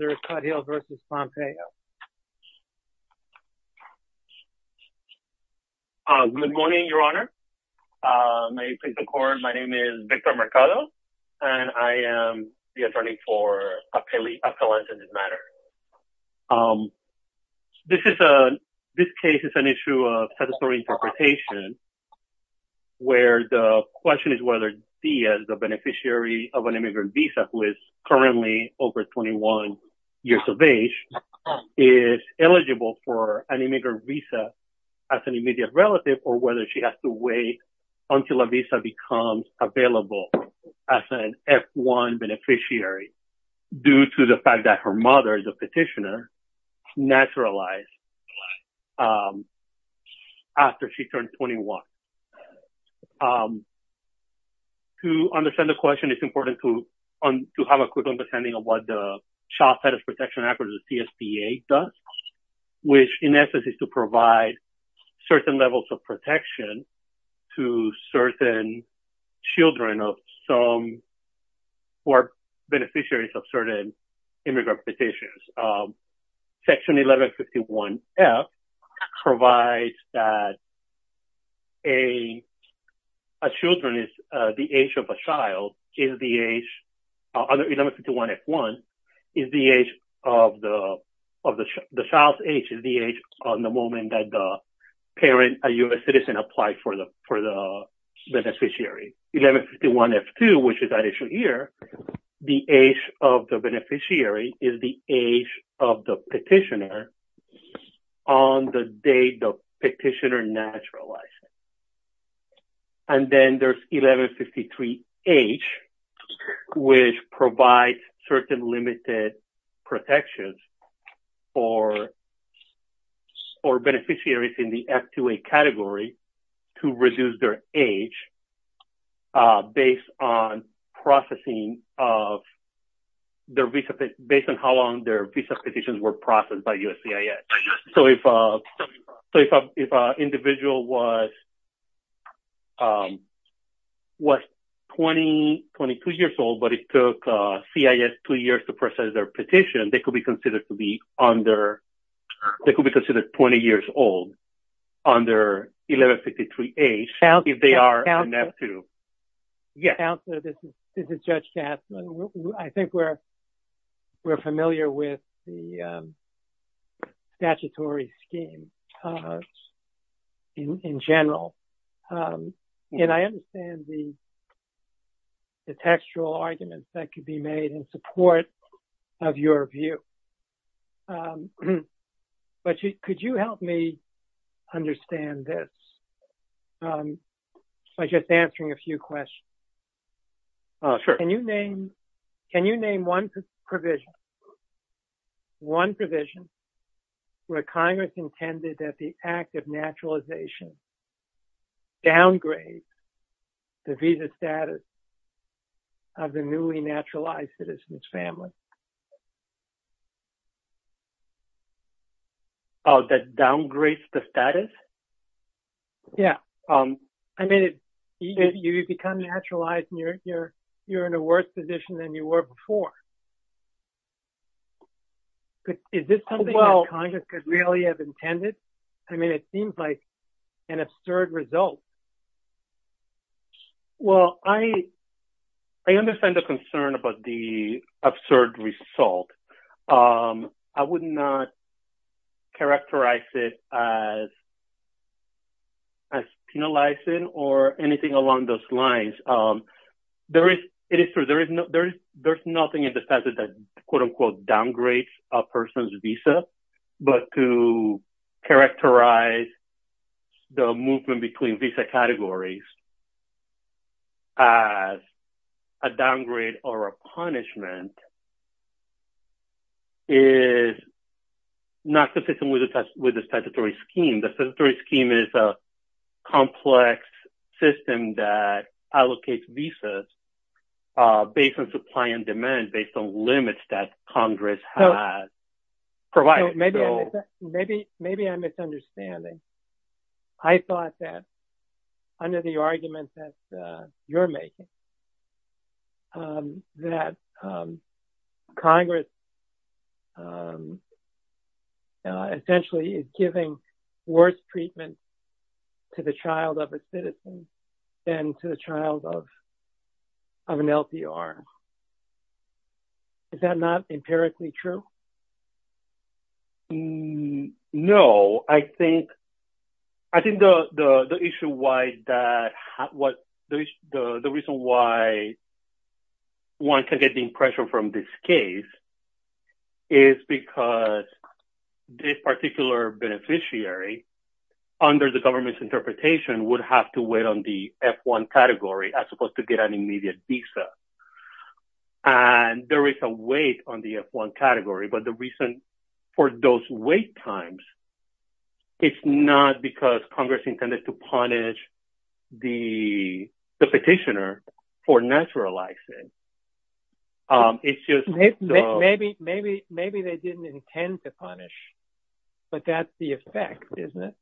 Good morning, your honor, may it please the court, my name is Victor Mercado and I am the attorney for a felon in this matter. This case is an issue of statutory interpretation where the question is whether he as the beneficiary of an immigrant visa, who is currently over 21 years of age, is eligible for an immigrant visa as an immediate relative or whether she has to wait until a visa becomes available as an F-1 beneficiary due to the fact that her mother, the petitioner, naturalized after she turned 21. To understand the question, it's important to have a quick understanding of what the Child Status Protection Act or the CSPA does, which in essence is to provide certain levels of protection to certain children of some who are beneficiaries of certain immigrant petitions. Section 1151-F provides that a children is the age of a child, 1151-F-1 is the age of the child, the child's age is the age on the moment that the parent, a U.S. citizen, applied for the beneficiary. 1151-F-2, which is that issue here, the age of the beneficiary is the age of the petitioner on the date the petitioner naturalized. And then there's 1153-H, which provides certain limited protections for beneficiaries in the age based on processing of their visa, based on how long their visa petitions were processed by USCIS. So, if an individual was 22 years old, but it took CIS two years to process their petition, they could be considered to be under, they could be considered 20 years old under 1153-H if they are NF2. Counselor, this is Judge Katz. I think we're familiar with the statutory scheme in general. And I understand the textual arguments that could be made in support of your view. But could you help me understand this by just answering a few questions? Can you name one provision, one provision where Congress intended that the act of naturalization downgrades the visa status of the newly naturalized citizen's family? Oh, that downgrades the status? Yeah. I mean, you become naturalized and you're in a worse position than you were before. Is this something that Congress could really have intended? I mean, it seems like an absurd result. Well, I understand the concern about the absurd result. I would not characterize it as penalizing or anything along those lines. There is, it is true, there is no, there is, there's nothing in the statute that quote characterize the movement between visa categories as a downgrade or a punishment is not consistent with the statutory scheme. The statutory scheme is a complex system that allocates visas based on supply and demand, based on limits that Congress has provided. Maybe I'm misunderstanding. I thought that under the argument that you're making, that Congress essentially is giving worse treatment to the child of a citizen than to the child of an LPR. Is that not empirically true? No, I think, I think the issue why that, what the reason why one can get the impression from this case is because this particular beneficiary under the government's interpretation would have to wait on the F-1 category as opposed to get an immediate visa. And there is a wait on the F-1 category. But the reason for those wait times, it's not because Congress intended to punish the petitioner for naturalizing. It's just maybe, maybe, maybe they didn't intend to punish, but that's the effect, isn't it?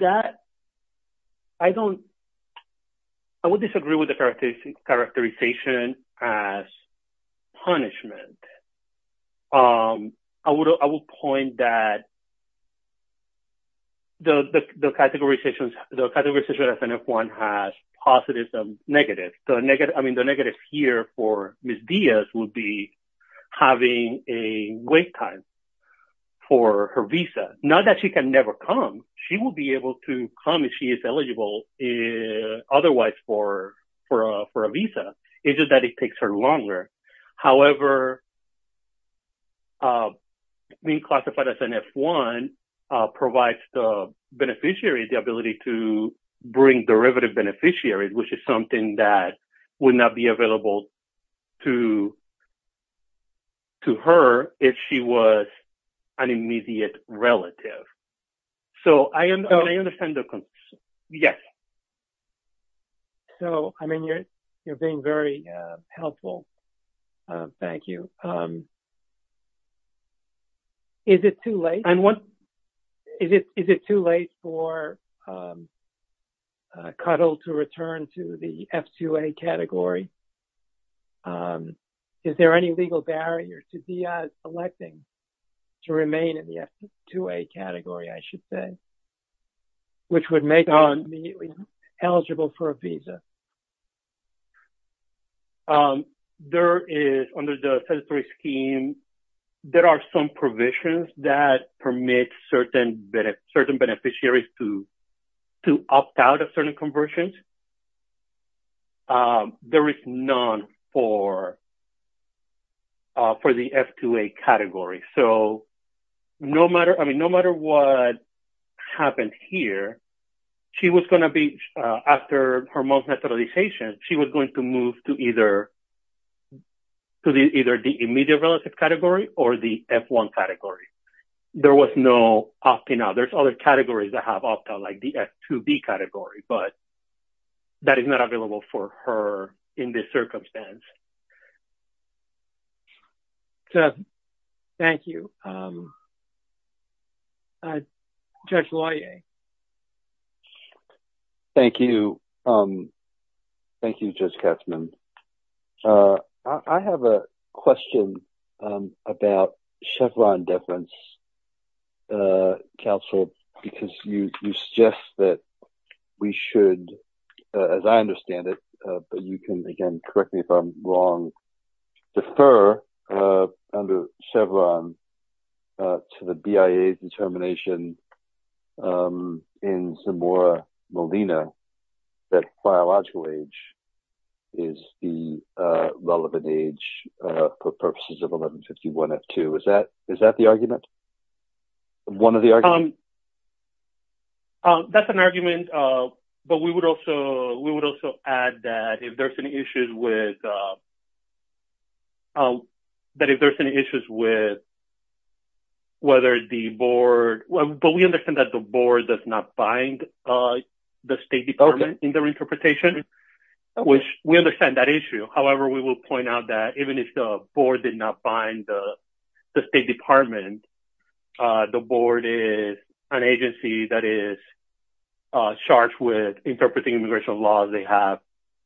That, I don't, I would disagree with the characterization as punishment. I would, I would point that the categorization, the categorization of F-1 has positives and negatives. The negative, I mean, the negative here for Ms. Diaz would be having a wait time for her visa. Not that she can never come. She will be able to come if she is eligible otherwise for a visa. It's just that it takes her longer. However, being classified as an F-1 provides the beneficiary the ability to bring derivative beneficiaries, which is something that would not be available to, to her if she was an F-2A. So, I understand the concern. Yes. So, I mean, you're, you're being very helpful. Thank you. Is it too late? I'm one. Is it, is it too late for Cuddle to return to the F-2A category? Is there any legal barrier to Diaz electing to remain in the F-2A category, I should say, which would make her immediately eligible for a visa? There is, under the statutory scheme, there are some provisions that permit certain, certain beneficiaries to, to opt out of certain conversions. There is none for, for the F-2A category. So, no matter, I mean, no matter what happened here, she was going to be, after her month naturalization, she was going to move to either, to the, either the immediate relative category or the F-1 category. There was no opting out. There's other categories that have opt out, like the F-2B category, but that is not available for her in this circumstance. So, thank you. Judge Loyer. Thank you. Thank you, Judge Katzmann. I, I have a question about Chevron deference, counsel, because you, you suggest that we should, as I understand it, but you can, again, correct me if I'm wrong, defer under Chevron to the BIA determination in Zamora Molina that biological age is the relevant age for purposes of 1151 F-2. Is that, is that the argument? One of the arguments? That's an argument, but we would also, we would also add that if there's any issues with, that if there's any issues with whether the board, but we understand that the board does not bind the State Department in their interpretation, which we understand that issue. However, we will point out that even if the board did not bind the State Department, the board is an agency that is charged with interpreting immigration laws. They have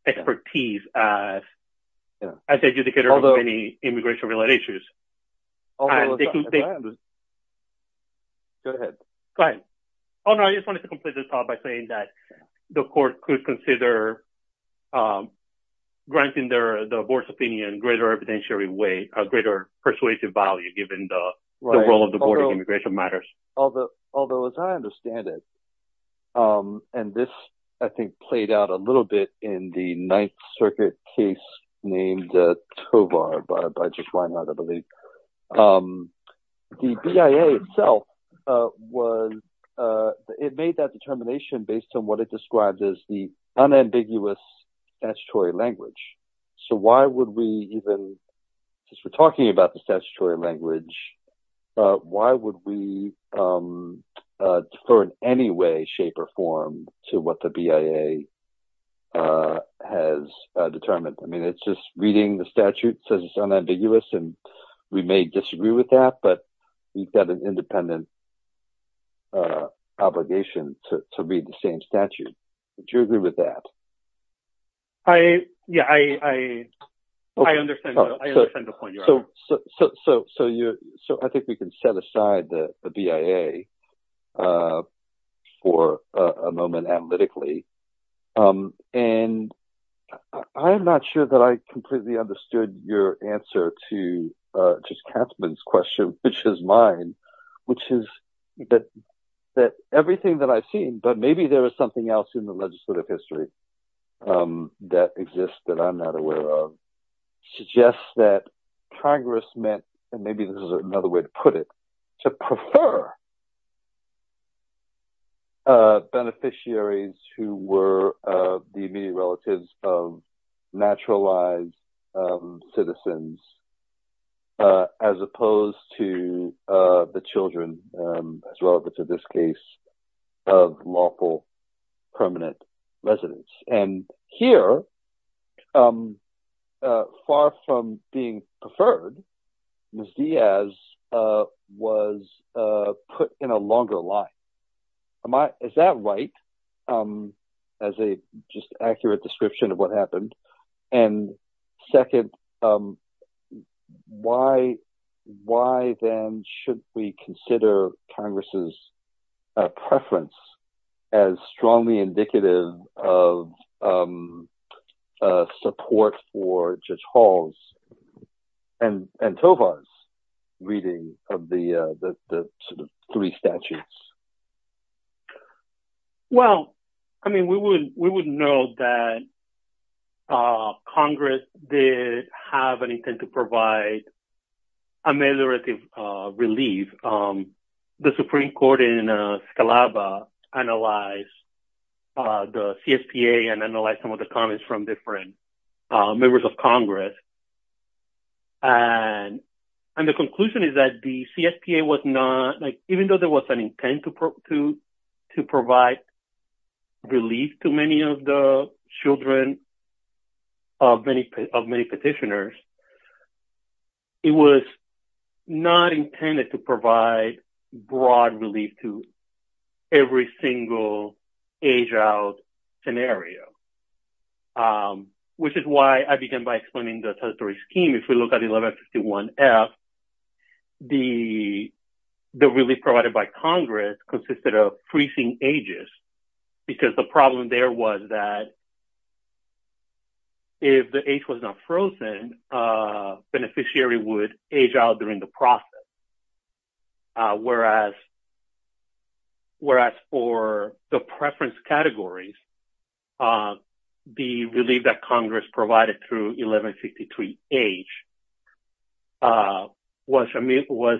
expertise as, as the adjudicator of any immigration-related issues. Go ahead. Go ahead. Oh, no, I just wanted to complete this thought by saying that the court could consider granting their, the board's opinion in a greater evidentiary way, a greater persuasive value, given the role of the board in immigration matters. Although, as I understand it, and this, I think, played out a little bit in the Ninth Circuit case named Tovar by, by Jeff Weinheit, I believe, the BIA itself was, it made that determination based on what it described as the unambiguous statutory language. So why would we even, since we're talking about the statutory language, why would we defer in any way, shape, or form to what the BIA has determined? I mean, it's just reading the statute says it's unambiguous, and we may disagree with that, but we've got an independent obligation to, to read the same statute. Would you agree with that? I, yeah, I, I, I understand, I understand the point you're making. So, so, so, so you're, so I think we can set aside the BIA for a moment analytically. And I'm not sure that I completely understood your answer to just Katzmann's question, which is mine, which is that, that everything that I've seen, but maybe there is something else in the legislative history that exists that I'm not aware of, suggests that Congress meant, and maybe this is another way to put it, to prefer beneficiaries who were the immediate relatives of naturalized citizens, as opposed to the children, as well, but to this case of lawful permanent residents. And here, far from being preferred, Ms. Diaz was put in a longer line. Is that right, as a just accurate description of what happened? And second, why, why then should we consider Congress's preference as strongly indicative of support for Judge Hall's and Tovar's reading of the, the three statutes? Well, I mean, we would, we would know that Congress did have an intent to provide ameliorative relief. The Supreme Court in Scalaba analyzed the CSPA and analyzed some of the comments from different members of Congress. And, and the conclusion is that the CSPA was not, like, even though there was an intent to, to, to provide relief to many of the children of many, of many petitioners, it was not intended to provide broad relief to every single age-out scenario, which is why I began by explaining the statutory scheme. If we look at 1151F, the, the relief provided by Congress consisted of precinct ages, because the problem there was that if the age was not frozen, a beneficiary would age out during the process, whereas, whereas for the preference categories, the relief that Congress provided through 1163H was, was,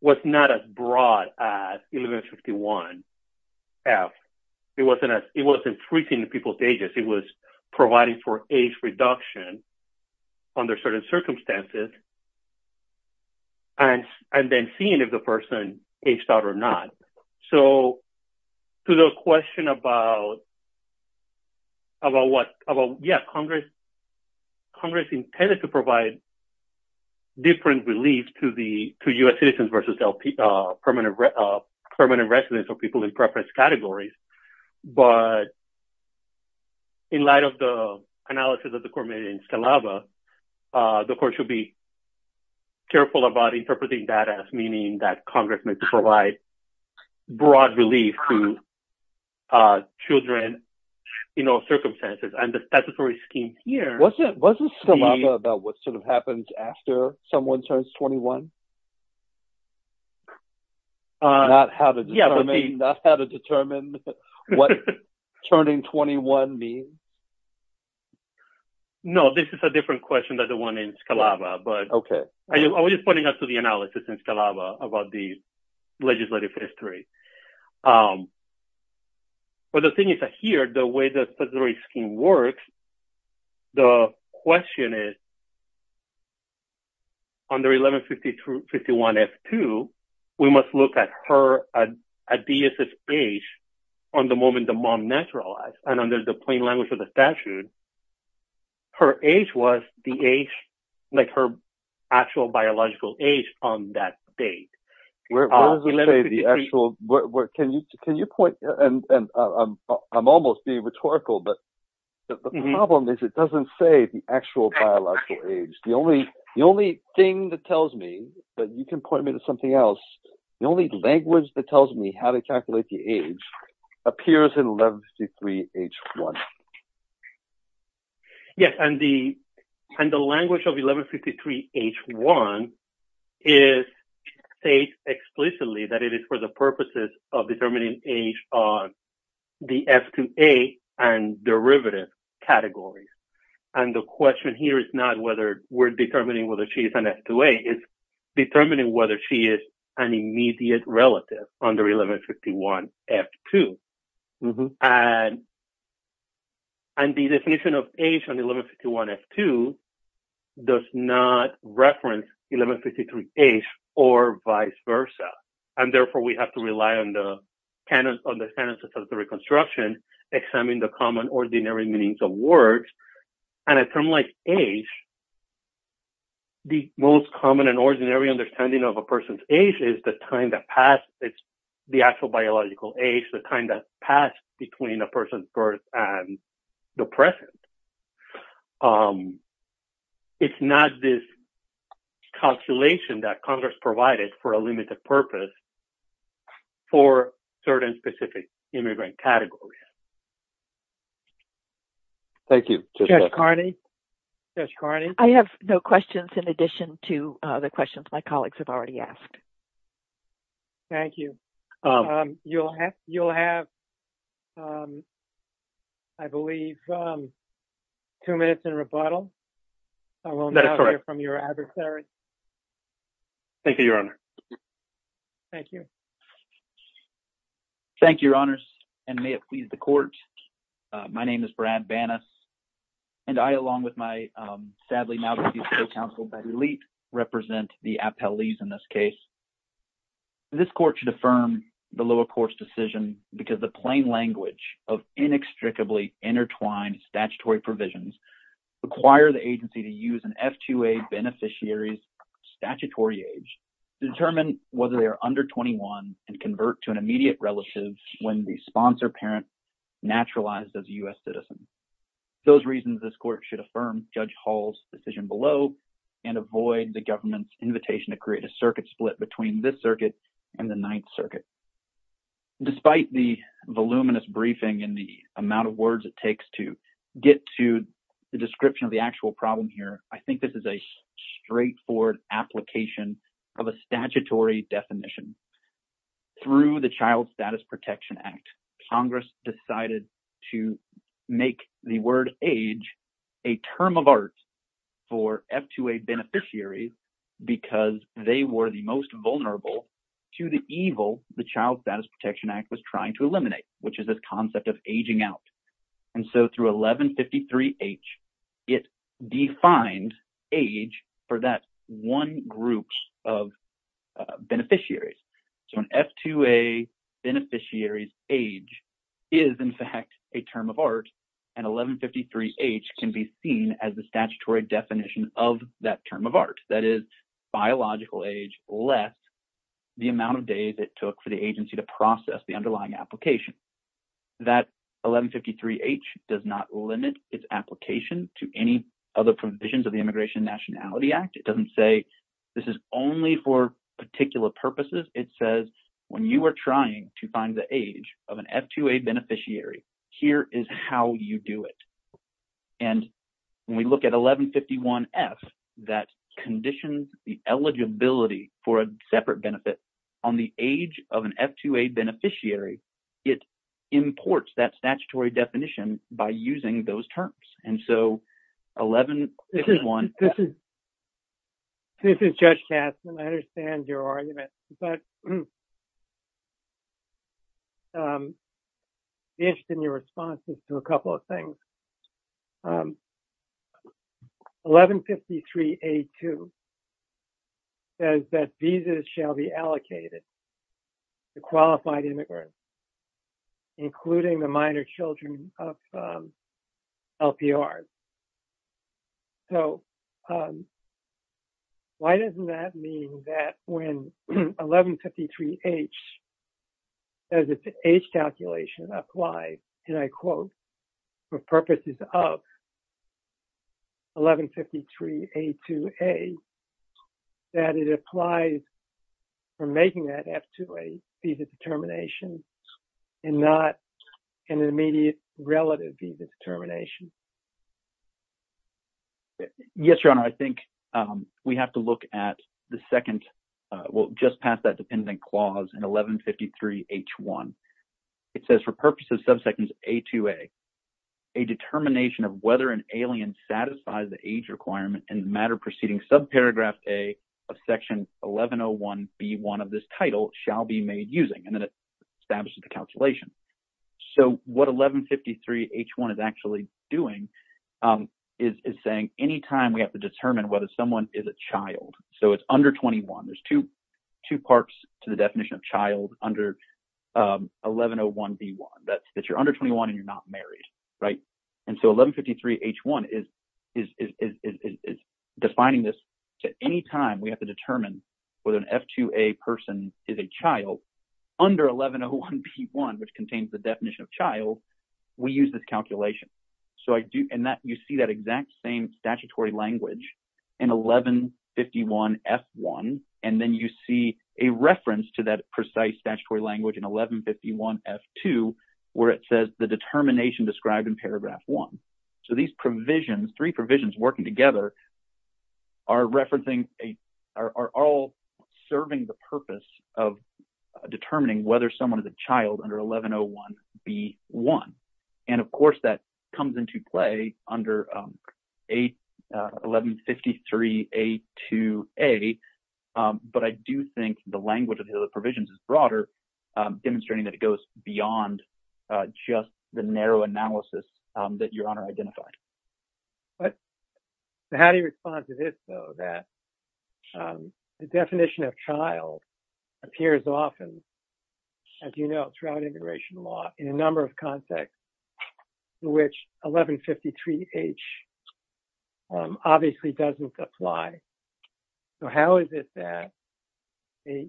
was not as broad as 1151F. It wasn't as, it wasn't freezing people's ages. It was providing for age reduction under certain circumstances and, and then seeing if the person aged out or not. So to the question about, about what, about, yeah, Congress, Congress intended to provide different relief to the, to U.S. citizens versus permanent, permanent residents or people in preference categories. But in light of the analysis of the court made in Scalaba, the court should be careful about interpreting that as meaning that Congress meant to provide broad relief to children in all circumstances. And the statutory scheme here... Wasn't, wasn't Scalaba about what sort of happens after someone turns 21? Not how to determine, not how to determine what turning 21 means? No, this is a different question than the one in Scalaba, but... Okay. I was just pointing out to the analysis in Scalaba about the legislative history. But the thing is that here, the way the statutory scheme works, the question is under 1151F2, we must look at her, at D.S.'s age on the moment the mom naturalized. And under the plain language of the statute, her age was the age, like her actual biological age on that date. Where does it say the actual, can you, can you point, and I'm, I'm almost being rhetorical, but the problem is it doesn't say the actual biological age. The only, the only thing that tells me, but you can point me to something else. The only language that tells me how to calculate the age appears in 1153H1. Yes, and the, and the language of 1153H1 is, states explicitly that it is for the purposes of determining age on the F2A and derivative categories. And the question here is not whether we're determining whether she's an F2A, it's determining whether she is an immediate relative under 1151F2. And, and the definition of age on 1151F2 does not reference 1153H or vice versa. And therefore, we have to rely on the canon, on the standards of statutory construction, examine the common ordinary meanings of words. And a term like age, the most common and ordinary understanding of a person's age is the time that passed, it's the actual biological age, the time that passed between a person's birth and the present. It's not this calculation that Congress provided for a limited purpose for certain specific immigrant categories. Thank you. Judge Carney, Judge Carney. I have no questions in addition to the questions my colleagues have already asked. You'll have, you'll have, I believe, two minutes in rebuttal. I will not hear from your adversaries. Thank you, Your Honor. Thank you, Your Honors. And may it please the court. My name is Brad Banas, and I, along with my, sadly, now-deceased co-counsel, Betty Leet, represent the appellees in this case. This court should affirm the lower court's decision because the plain language of inextricably intertwined statutory provisions require the agency to use an F2A beneficiary's statutory age to determine whether they are under 21 and convert to an immediate relative when the sponsor parent naturalized as a U.S. citizen. Those reasons, this court should affirm Judge Hall's decision below and avoid the government's invitation to create a circuit split between this circuit and the Ninth Circuit. Despite the voluminous briefing and the amount of words it takes to get to the description of the actual problem here, I think this is a straightforward application of a statutory definition. Through the Child Status Protection Act, Congress decided to make the word age a term of art for F2A beneficiaries because they were the most vulnerable to the evil the Child Status Protection Act was trying to eliminate, which is this concept of aging out. Through 1153H, it defined age for that one group of beneficiaries. So, an F2A beneficiary's age is, in fact, a term of art, and 1153H can be seen as the statutory definition of that term of art, that is, biological age less the amount of days it took for the agency to process the underlying application. That 1153H does not limit its application to any other provisions of the Immigration Nationality Act. It doesn't say this is only for particular purposes. It says when you are trying to find the age of an F2A beneficiary, here is how you do it. And when we look at 1151F, that conditions the eligibility for a separate benefit on the age of an F2A beneficiary. It imports that statutory definition by using those terms. And so, 1151F... Judge Kastner This is Judge Kastner. I understand your argument. But I'm interested in your responses to a couple of things. 1153A2 says that visas shall be allocated to qualified immigrants, including the minor children of LPRs. So, why doesn't that mean that when 1153H says its age calculation applies, and I quote, for purposes of 1153A2A, that it applies for making that F2A visa determination and not an immediate relative visa determination? Judge Kastner Yes, Your Honor. I think we have to look at the second... well, just past that dependent clause in 1153H1. It says, for purposes of subsections A2A, a determination of whether an alien satisfies the age requirement in the matter preceding subparagraph A of section 1101B1 of this title shall be made using. And then it establishes the calculation. So, what 1153H1 is actually doing is saying any time we have to determine whether someone is a child. So, it's under 21. There's two parts to the definition of child under 1101B1, that you're under 21 and you're not married, right? And so, 1153H1 is defining this to any time we have to determine whether an F2A person is a child under 1101B1, which contains the definition of child, we use this calculation. So, you see that exact same statutory language in 1151F1, and then you see a reference to that precise statutory language in 1151F2, where it says the determination described in paragraph 1. So, these provisions, three provisions working together, are referencing... are all serving the purpose of determining whether someone is a child under 1101B1. And of course, that comes into play under 1153A2A, but I do think the language of the provisions is broader, demonstrating that it goes beyond just the narrow analysis that Your Honor identified. But, so how do you respond to this, though, that the definition of child appears often, as you know, throughout immigration law, in a number of contexts in which 1153H obviously doesn't apply? So, how is it that a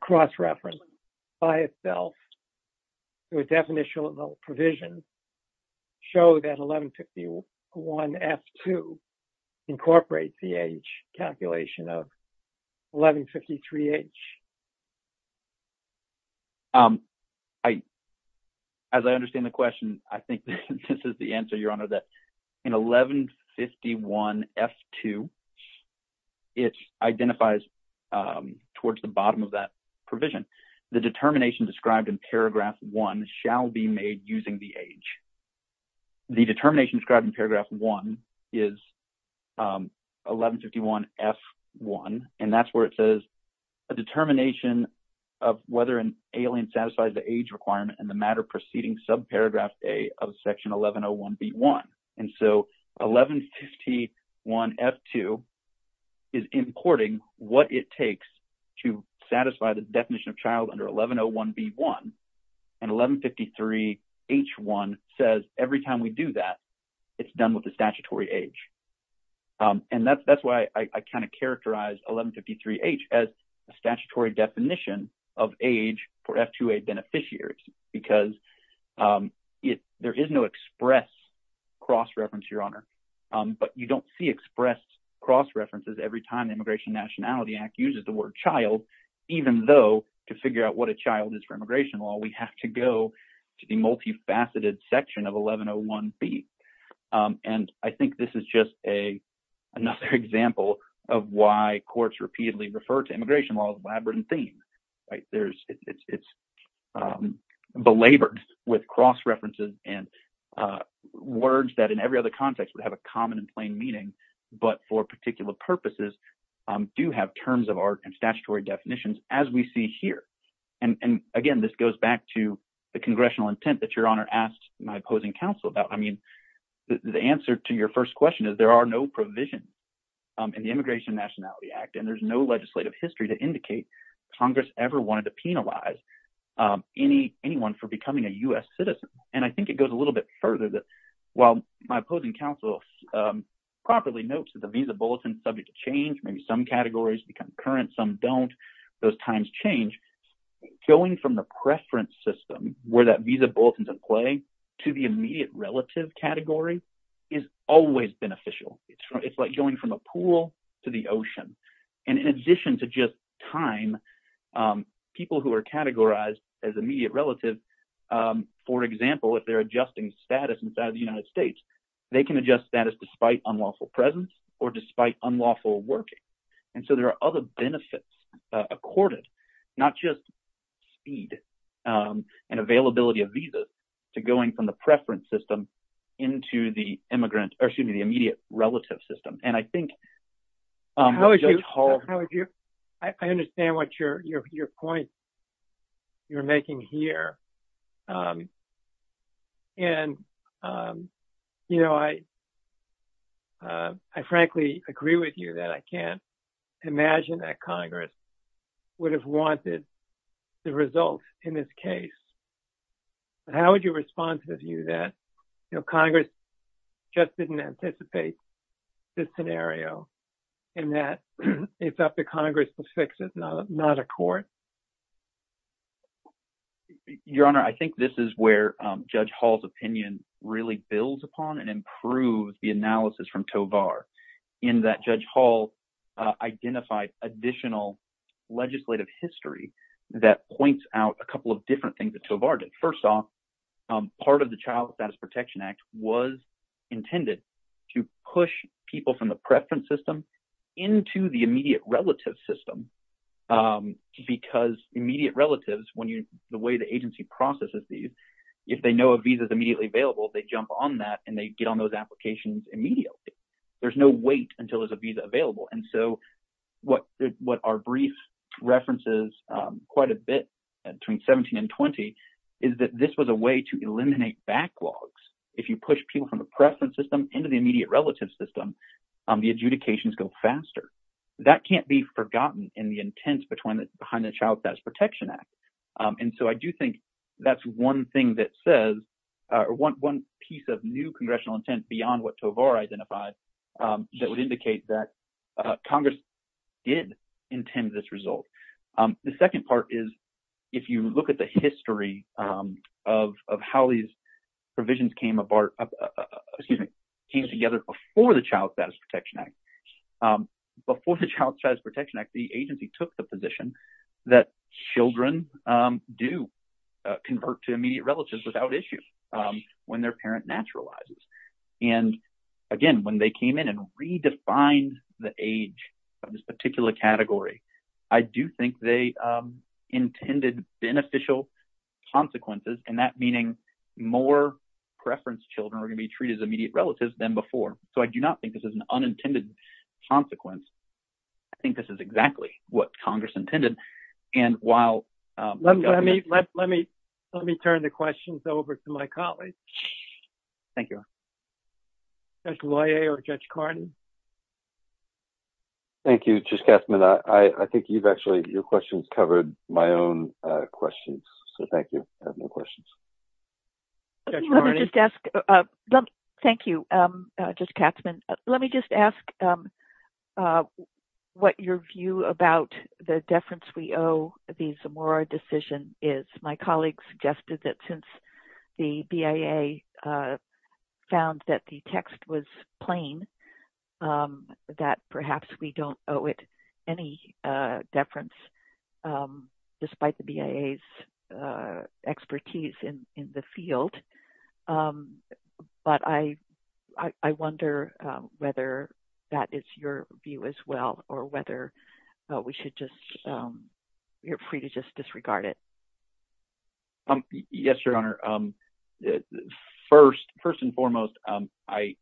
cross-reference by itself to a definitional provision show that 1151F2 incorporates the age calculation of 1153H? Um, I... as I understand the question, I think this is the answer, Your Honor, that in 1151F2, it identifies towards the bottom of that provision. The determination described in paragraph 1 shall be made using the age. The determination described in paragraph 1 is 1151F1, and that's where it says, a determination of whether an alien satisfies the age requirement in the matter preceding subparagraph A of section 1101B1. And so, 1151F2 is importing what it takes to satisfy the definition of child under 1101B1, and 1153H1 says every time we do that, it's done with the statutory age. And that's why I kind of characterize 1153H as a statutory definition of age for F2A beneficiaries, because there is no express cross-reference, Your Honor, but you don't see express cross-references every time the Immigration Nationality Act uses the word child, even though to figure out what a child is for immigration law, we have to go to the multifaceted section of 1101B. And I think this is just another example of why courts repeatedly refer to immigration law as a labyrinthine, right? There's... it's belabored with cross-references and words that in every other context would have a common and plain meaning, but for particular purposes, do have terms of art and statutory definitions, as we see here. And again, this goes back to the congressional intent that Your Honor asked my opposing counsel about. I mean, the answer to your first question is there are no provisions in the Immigration Nationality Act, and there's no legislative history to indicate Congress ever wanted to penalize anyone for becoming a U.S. citizen. And I think it goes a little bit further that while my opposing counsel properly notes that visa bulletins subject to change, maybe some categories become current, some don't, those times change, going from the preference system where that visa bulletin's in play to the immediate relative category is always beneficial. It's like going from a pool to the ocean. And in addition to just time, people who are categorized as immediate relatives, for example, if they're adjusting status inside of the United States, they can adjust status despite unlawful presence or despite unlawful working. And so there are other benefits accorded, not just speed and availability of visas, to going from the preference system into the immigrant, or excuse me, the immediate relative system. And I think Judge Hall— I frankly agree with you that I can't imagine that Congress would have wanted the results in this case. But how would you respond to the view that Congress just didn't anticipate this scenario and that it's up to Congress to fix it, not a court? Your Honor, I think this is where Judge Hall's opinion really builds upon and improves the case. In that Judge Hall identified additional legislative history that points out a couple of different things that Tovar did. First off, part of the Child Status Protection Act was intended to push people from the preference system into the immediate relative system because immediate relatives, the way the agency processes these, if they know a visa's immediately available, they jump on that and they get on those applications immediately. There's no wait until there's a visa available. And so what our brief references quite a bit, between 17 and 20, is that this was a way to eliminate backlogs. If you push people from the preference system into the immediate relative system, the adjudications go faster. That can't be forgotten in the intent behind the Child Status Protection Act. And so I do think that's one thing that says, or one piece of new congressional intent beyond what Tovar identified, that would indicate that Congress did intend this result. The second part is, if you look at the history of how these provisions came together before the Child Status Protection Act, before the Child Status Protection Act, the agency took the position that children do convert to immediate relatives without issue when their parent naturalizes. And again, when they came in and redefined the age of this particular category, I do think they intended beneficial consequences. And that meaning more preference children are going to be treated as immediate relatives than before. So I do not think this is an unintended consequence. I think this is exactly what Congress intended. And while- Let me turn the questions over to my colleague. Thank you. Judge Loyer or Judge Carney? Thank you, Judge Katzmann. I think you've actually- your questions covered my own questions. So thank you. I have no questions. Thank you, Judge Katzmann. Let me just ask what your view about the deference we owe the Zamora decision is. My colleague suggested that since the BIA found that the text was plain, that perhaps we don't owe it any deference, despite the BIA's expertise in the field. But I wonder whether that is your view as well, or whether we should just- you're free to just disregard it. Yes, Your Honor. First and foremost, the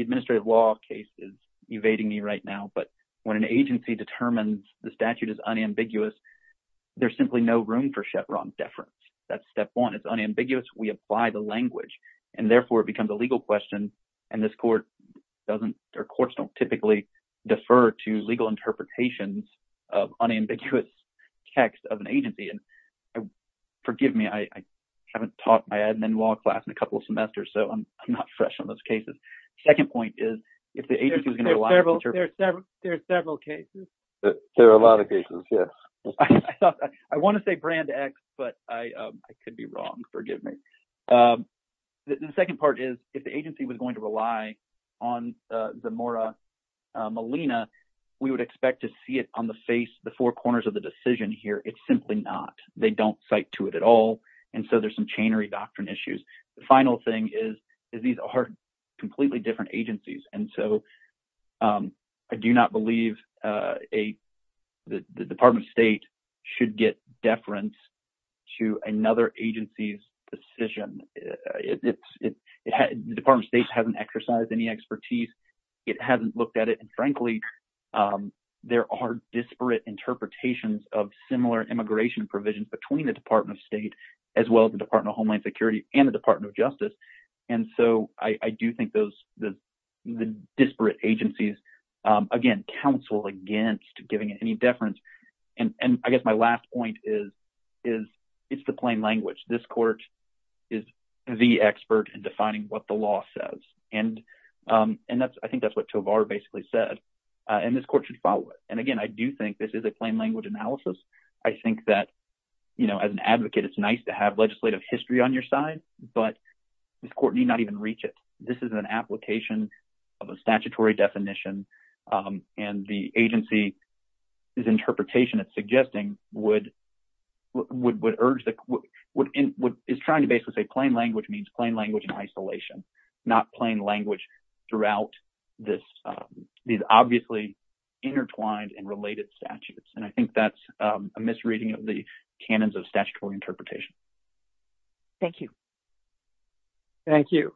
administrative law case is evading me right now. But when an agency determines the statute is unambiguous, there's simply no room for shut wrong deference. That's step one. It's unambiguous. We apply the language. And therefore, it becomes a legal question. And this court doesn't- or courts don't typically defer to legal interpretations of unambiguous text of an agency. And forgive me, I haven't taught my admin law class in a couple of semesters. So I'm not fresh on those cases. Second point is, if the agency is going to- There are several cases. There are a lot of cases, yes. I thought- I want to say brand X, but I could be wrong. Forgive me. The second part is, if the agency was going to rely on Zamora Molina, we would expect to see it on the face, the four corners of the decision here. It's simply not. They don't cite to it at all. And so there's some chainery doctrine issues. The final thing is, is these are completely different agencies. And so I do not believe the Department of State should get deference to another agency's decision. The Department of State hasn't exercised any expertise. It hasn't looked at it. And frankly, there are disparate interpretations of similar immigration provisions between the Department of State as well as the Department of Homeland Security and the Department of Justice. And so I do think the disparate agencies, again, counsel against giving it any deference. And I guess my last point is, it's the plain language. This court is the expert in defining what the law says. I think that's what Tovar basically said. And this court should follow it. And again, I do think this is a plain language analysis. I think that as an advocate, it's nice to have legislative history on your side. But this court need not even reach it. This is an application of a statutory definition. And the agency's interpretation it's suggesting would urge the court, is trying to basically say plain language means plain language in isolation, not plain language throughout these obviously intertwined and related statutes. And I think that's a misreading of the canons of statutory interpretation. Thank you. Thank you.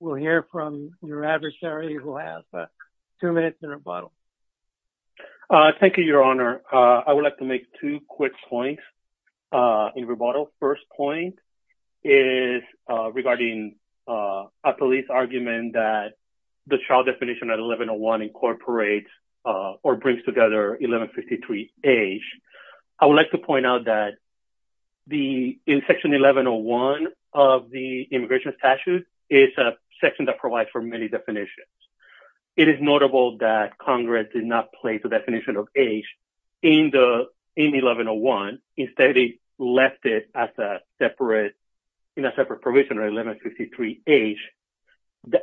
We'll hear from your adversary who has two minutes in rebuttal. Thank you, Your Honor. I would like to make two quick points in rebuttal. First point is regarding a police argument that the child definition at 1101 incorporates or brings together 1153 age. I would like to point out that in Section 1101 of the immigration statute, it's a section that provides for many definitions. It is notable that Congress did not place a definition of age in 1101. Instead, they left it in a separate provision, 1153 age,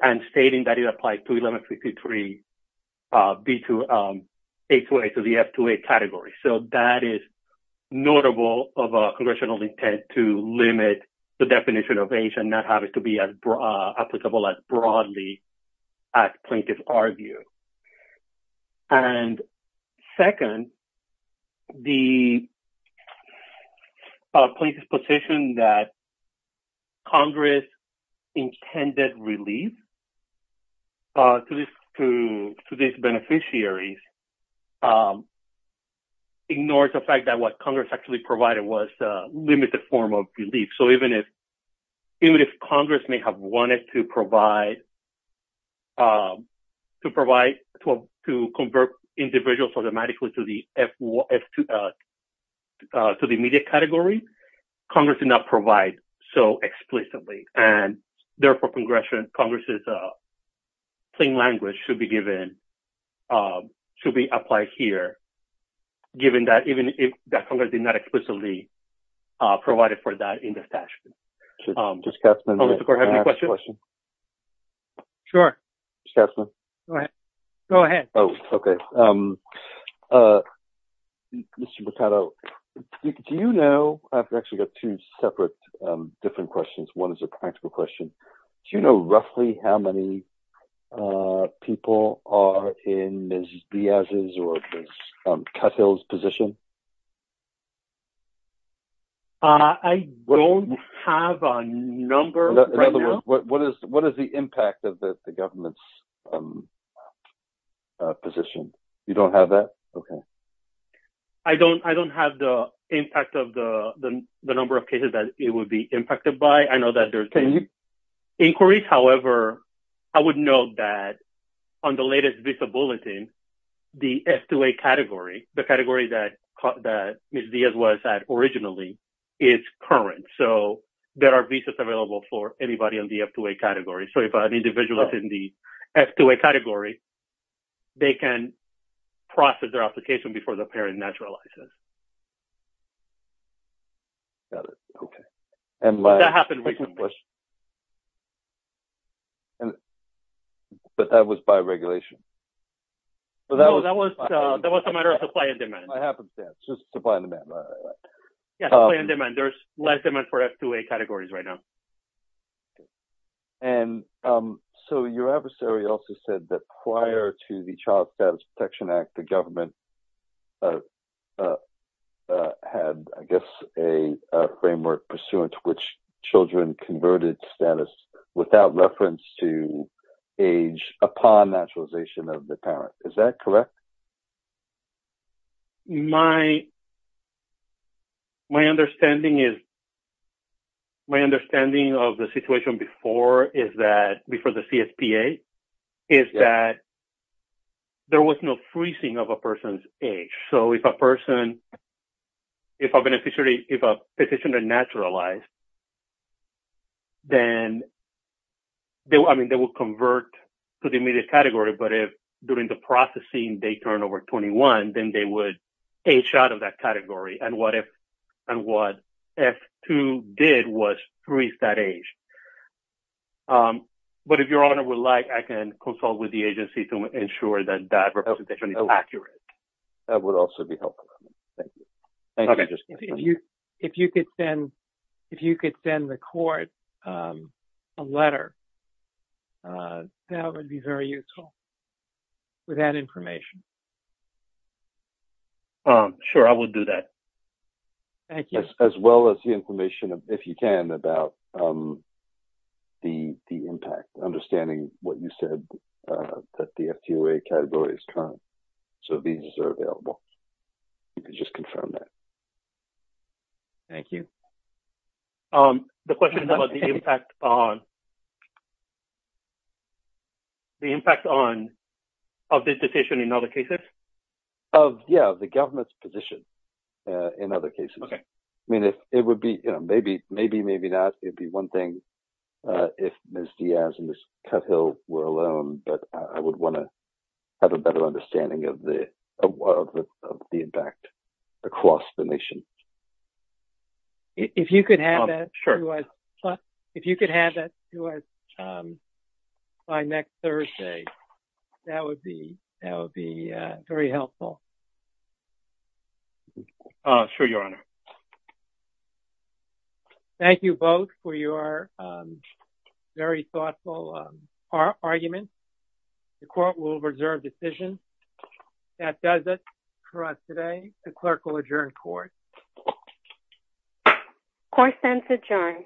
and stating that it applies to 1153 B to A to A to the F to A category. So that is notable of a congressional intent to limit the definition of age and not have it to be applicable as broadly as plaintiffs argue. And second, the plaintiff's position that Congress intended relief to these beneficiaries ignores the fact that what Congress actually provided was a limited form of relief. So even if Congress may have wanted to convert individuals automatically to the immediate category, Congress did not provide so explicitly. And therefore, Congress's plain language should be applied here. Given that even if Congress did not explicitly provide for that in this statute. Mr. Katzman, can I ask a question? Sure. Mr. Katzman? Go ahead. Oh, okay. Mr. Mercado, do you know, I've actually got two separate different questions. One is a practical question. Do you know roughly how many people are in Ms. Diaz's or Ms. Cuthill's position? I don't have a number right now. What is the impact of the government's position? You don't have that? Okay. I don't have the impact of the number of cases that it would be impacted by. I know that there's... Inquiries, however, I would note that on the latest visa bulletin, the F2A category, the category that Ms. Diaz was at originally, is current. So there are visas available for anybody in the F2A category. So if an individual is in the F2A category, they can process their application before the parent naturalizes. Got it. Okay. That happened recently. But that was by regulation? No, that was a matter of supply and demand. It happens, yeah. It's just supply and demand. Yeah, supply and demand. There's less demand for F2A categories right now. And so your adversary also said that prior to the Child Status Protection Act, the government had, I guess, a framework pursuant to which children converted status without reference to age upon naturalization of the parent. Is that correct? My understanding of the situation before the CSPA is that there was no freezing of a person's age. So if a person, if a beneficiary, if a petitioner naturalized, then, I mean, they will convert to the immediate category. But if during the processing, they turn over 21, then they would age out of that category. And what if, and what F2 did was freeze that age. But if your honor would like, I can consult with the agency to ensure that that representation is accurate. That would also be helpful. Thank you. If you could then record a letter, that would be very useful with that information. Sure, I will do that. Thank you. As well as the information, if you can, about the impact. Understanding what you said, that the F2A category is current. So these are available. You can just confirm that. Thank you. The question is about the impact on, the impact on, of this petition in other cases? Of, yeah, the government's position in other cases. Okay. I mean, if it would be, you know, maybe, maybe, maybe not. It'd be one thing if Ms. Diaz and Ms. Cuthill were alone. But I would want to have a better understanding of the, of the impact across the nation. If you could have that, if you could have that to us by next Thursday, that would be, that would be very helpful. Sure, your honor. Thank you both for your very thoughtful arguments. The court will reserve decision. That does it for us today. The clerk will adjourn court. Court sends adjourned.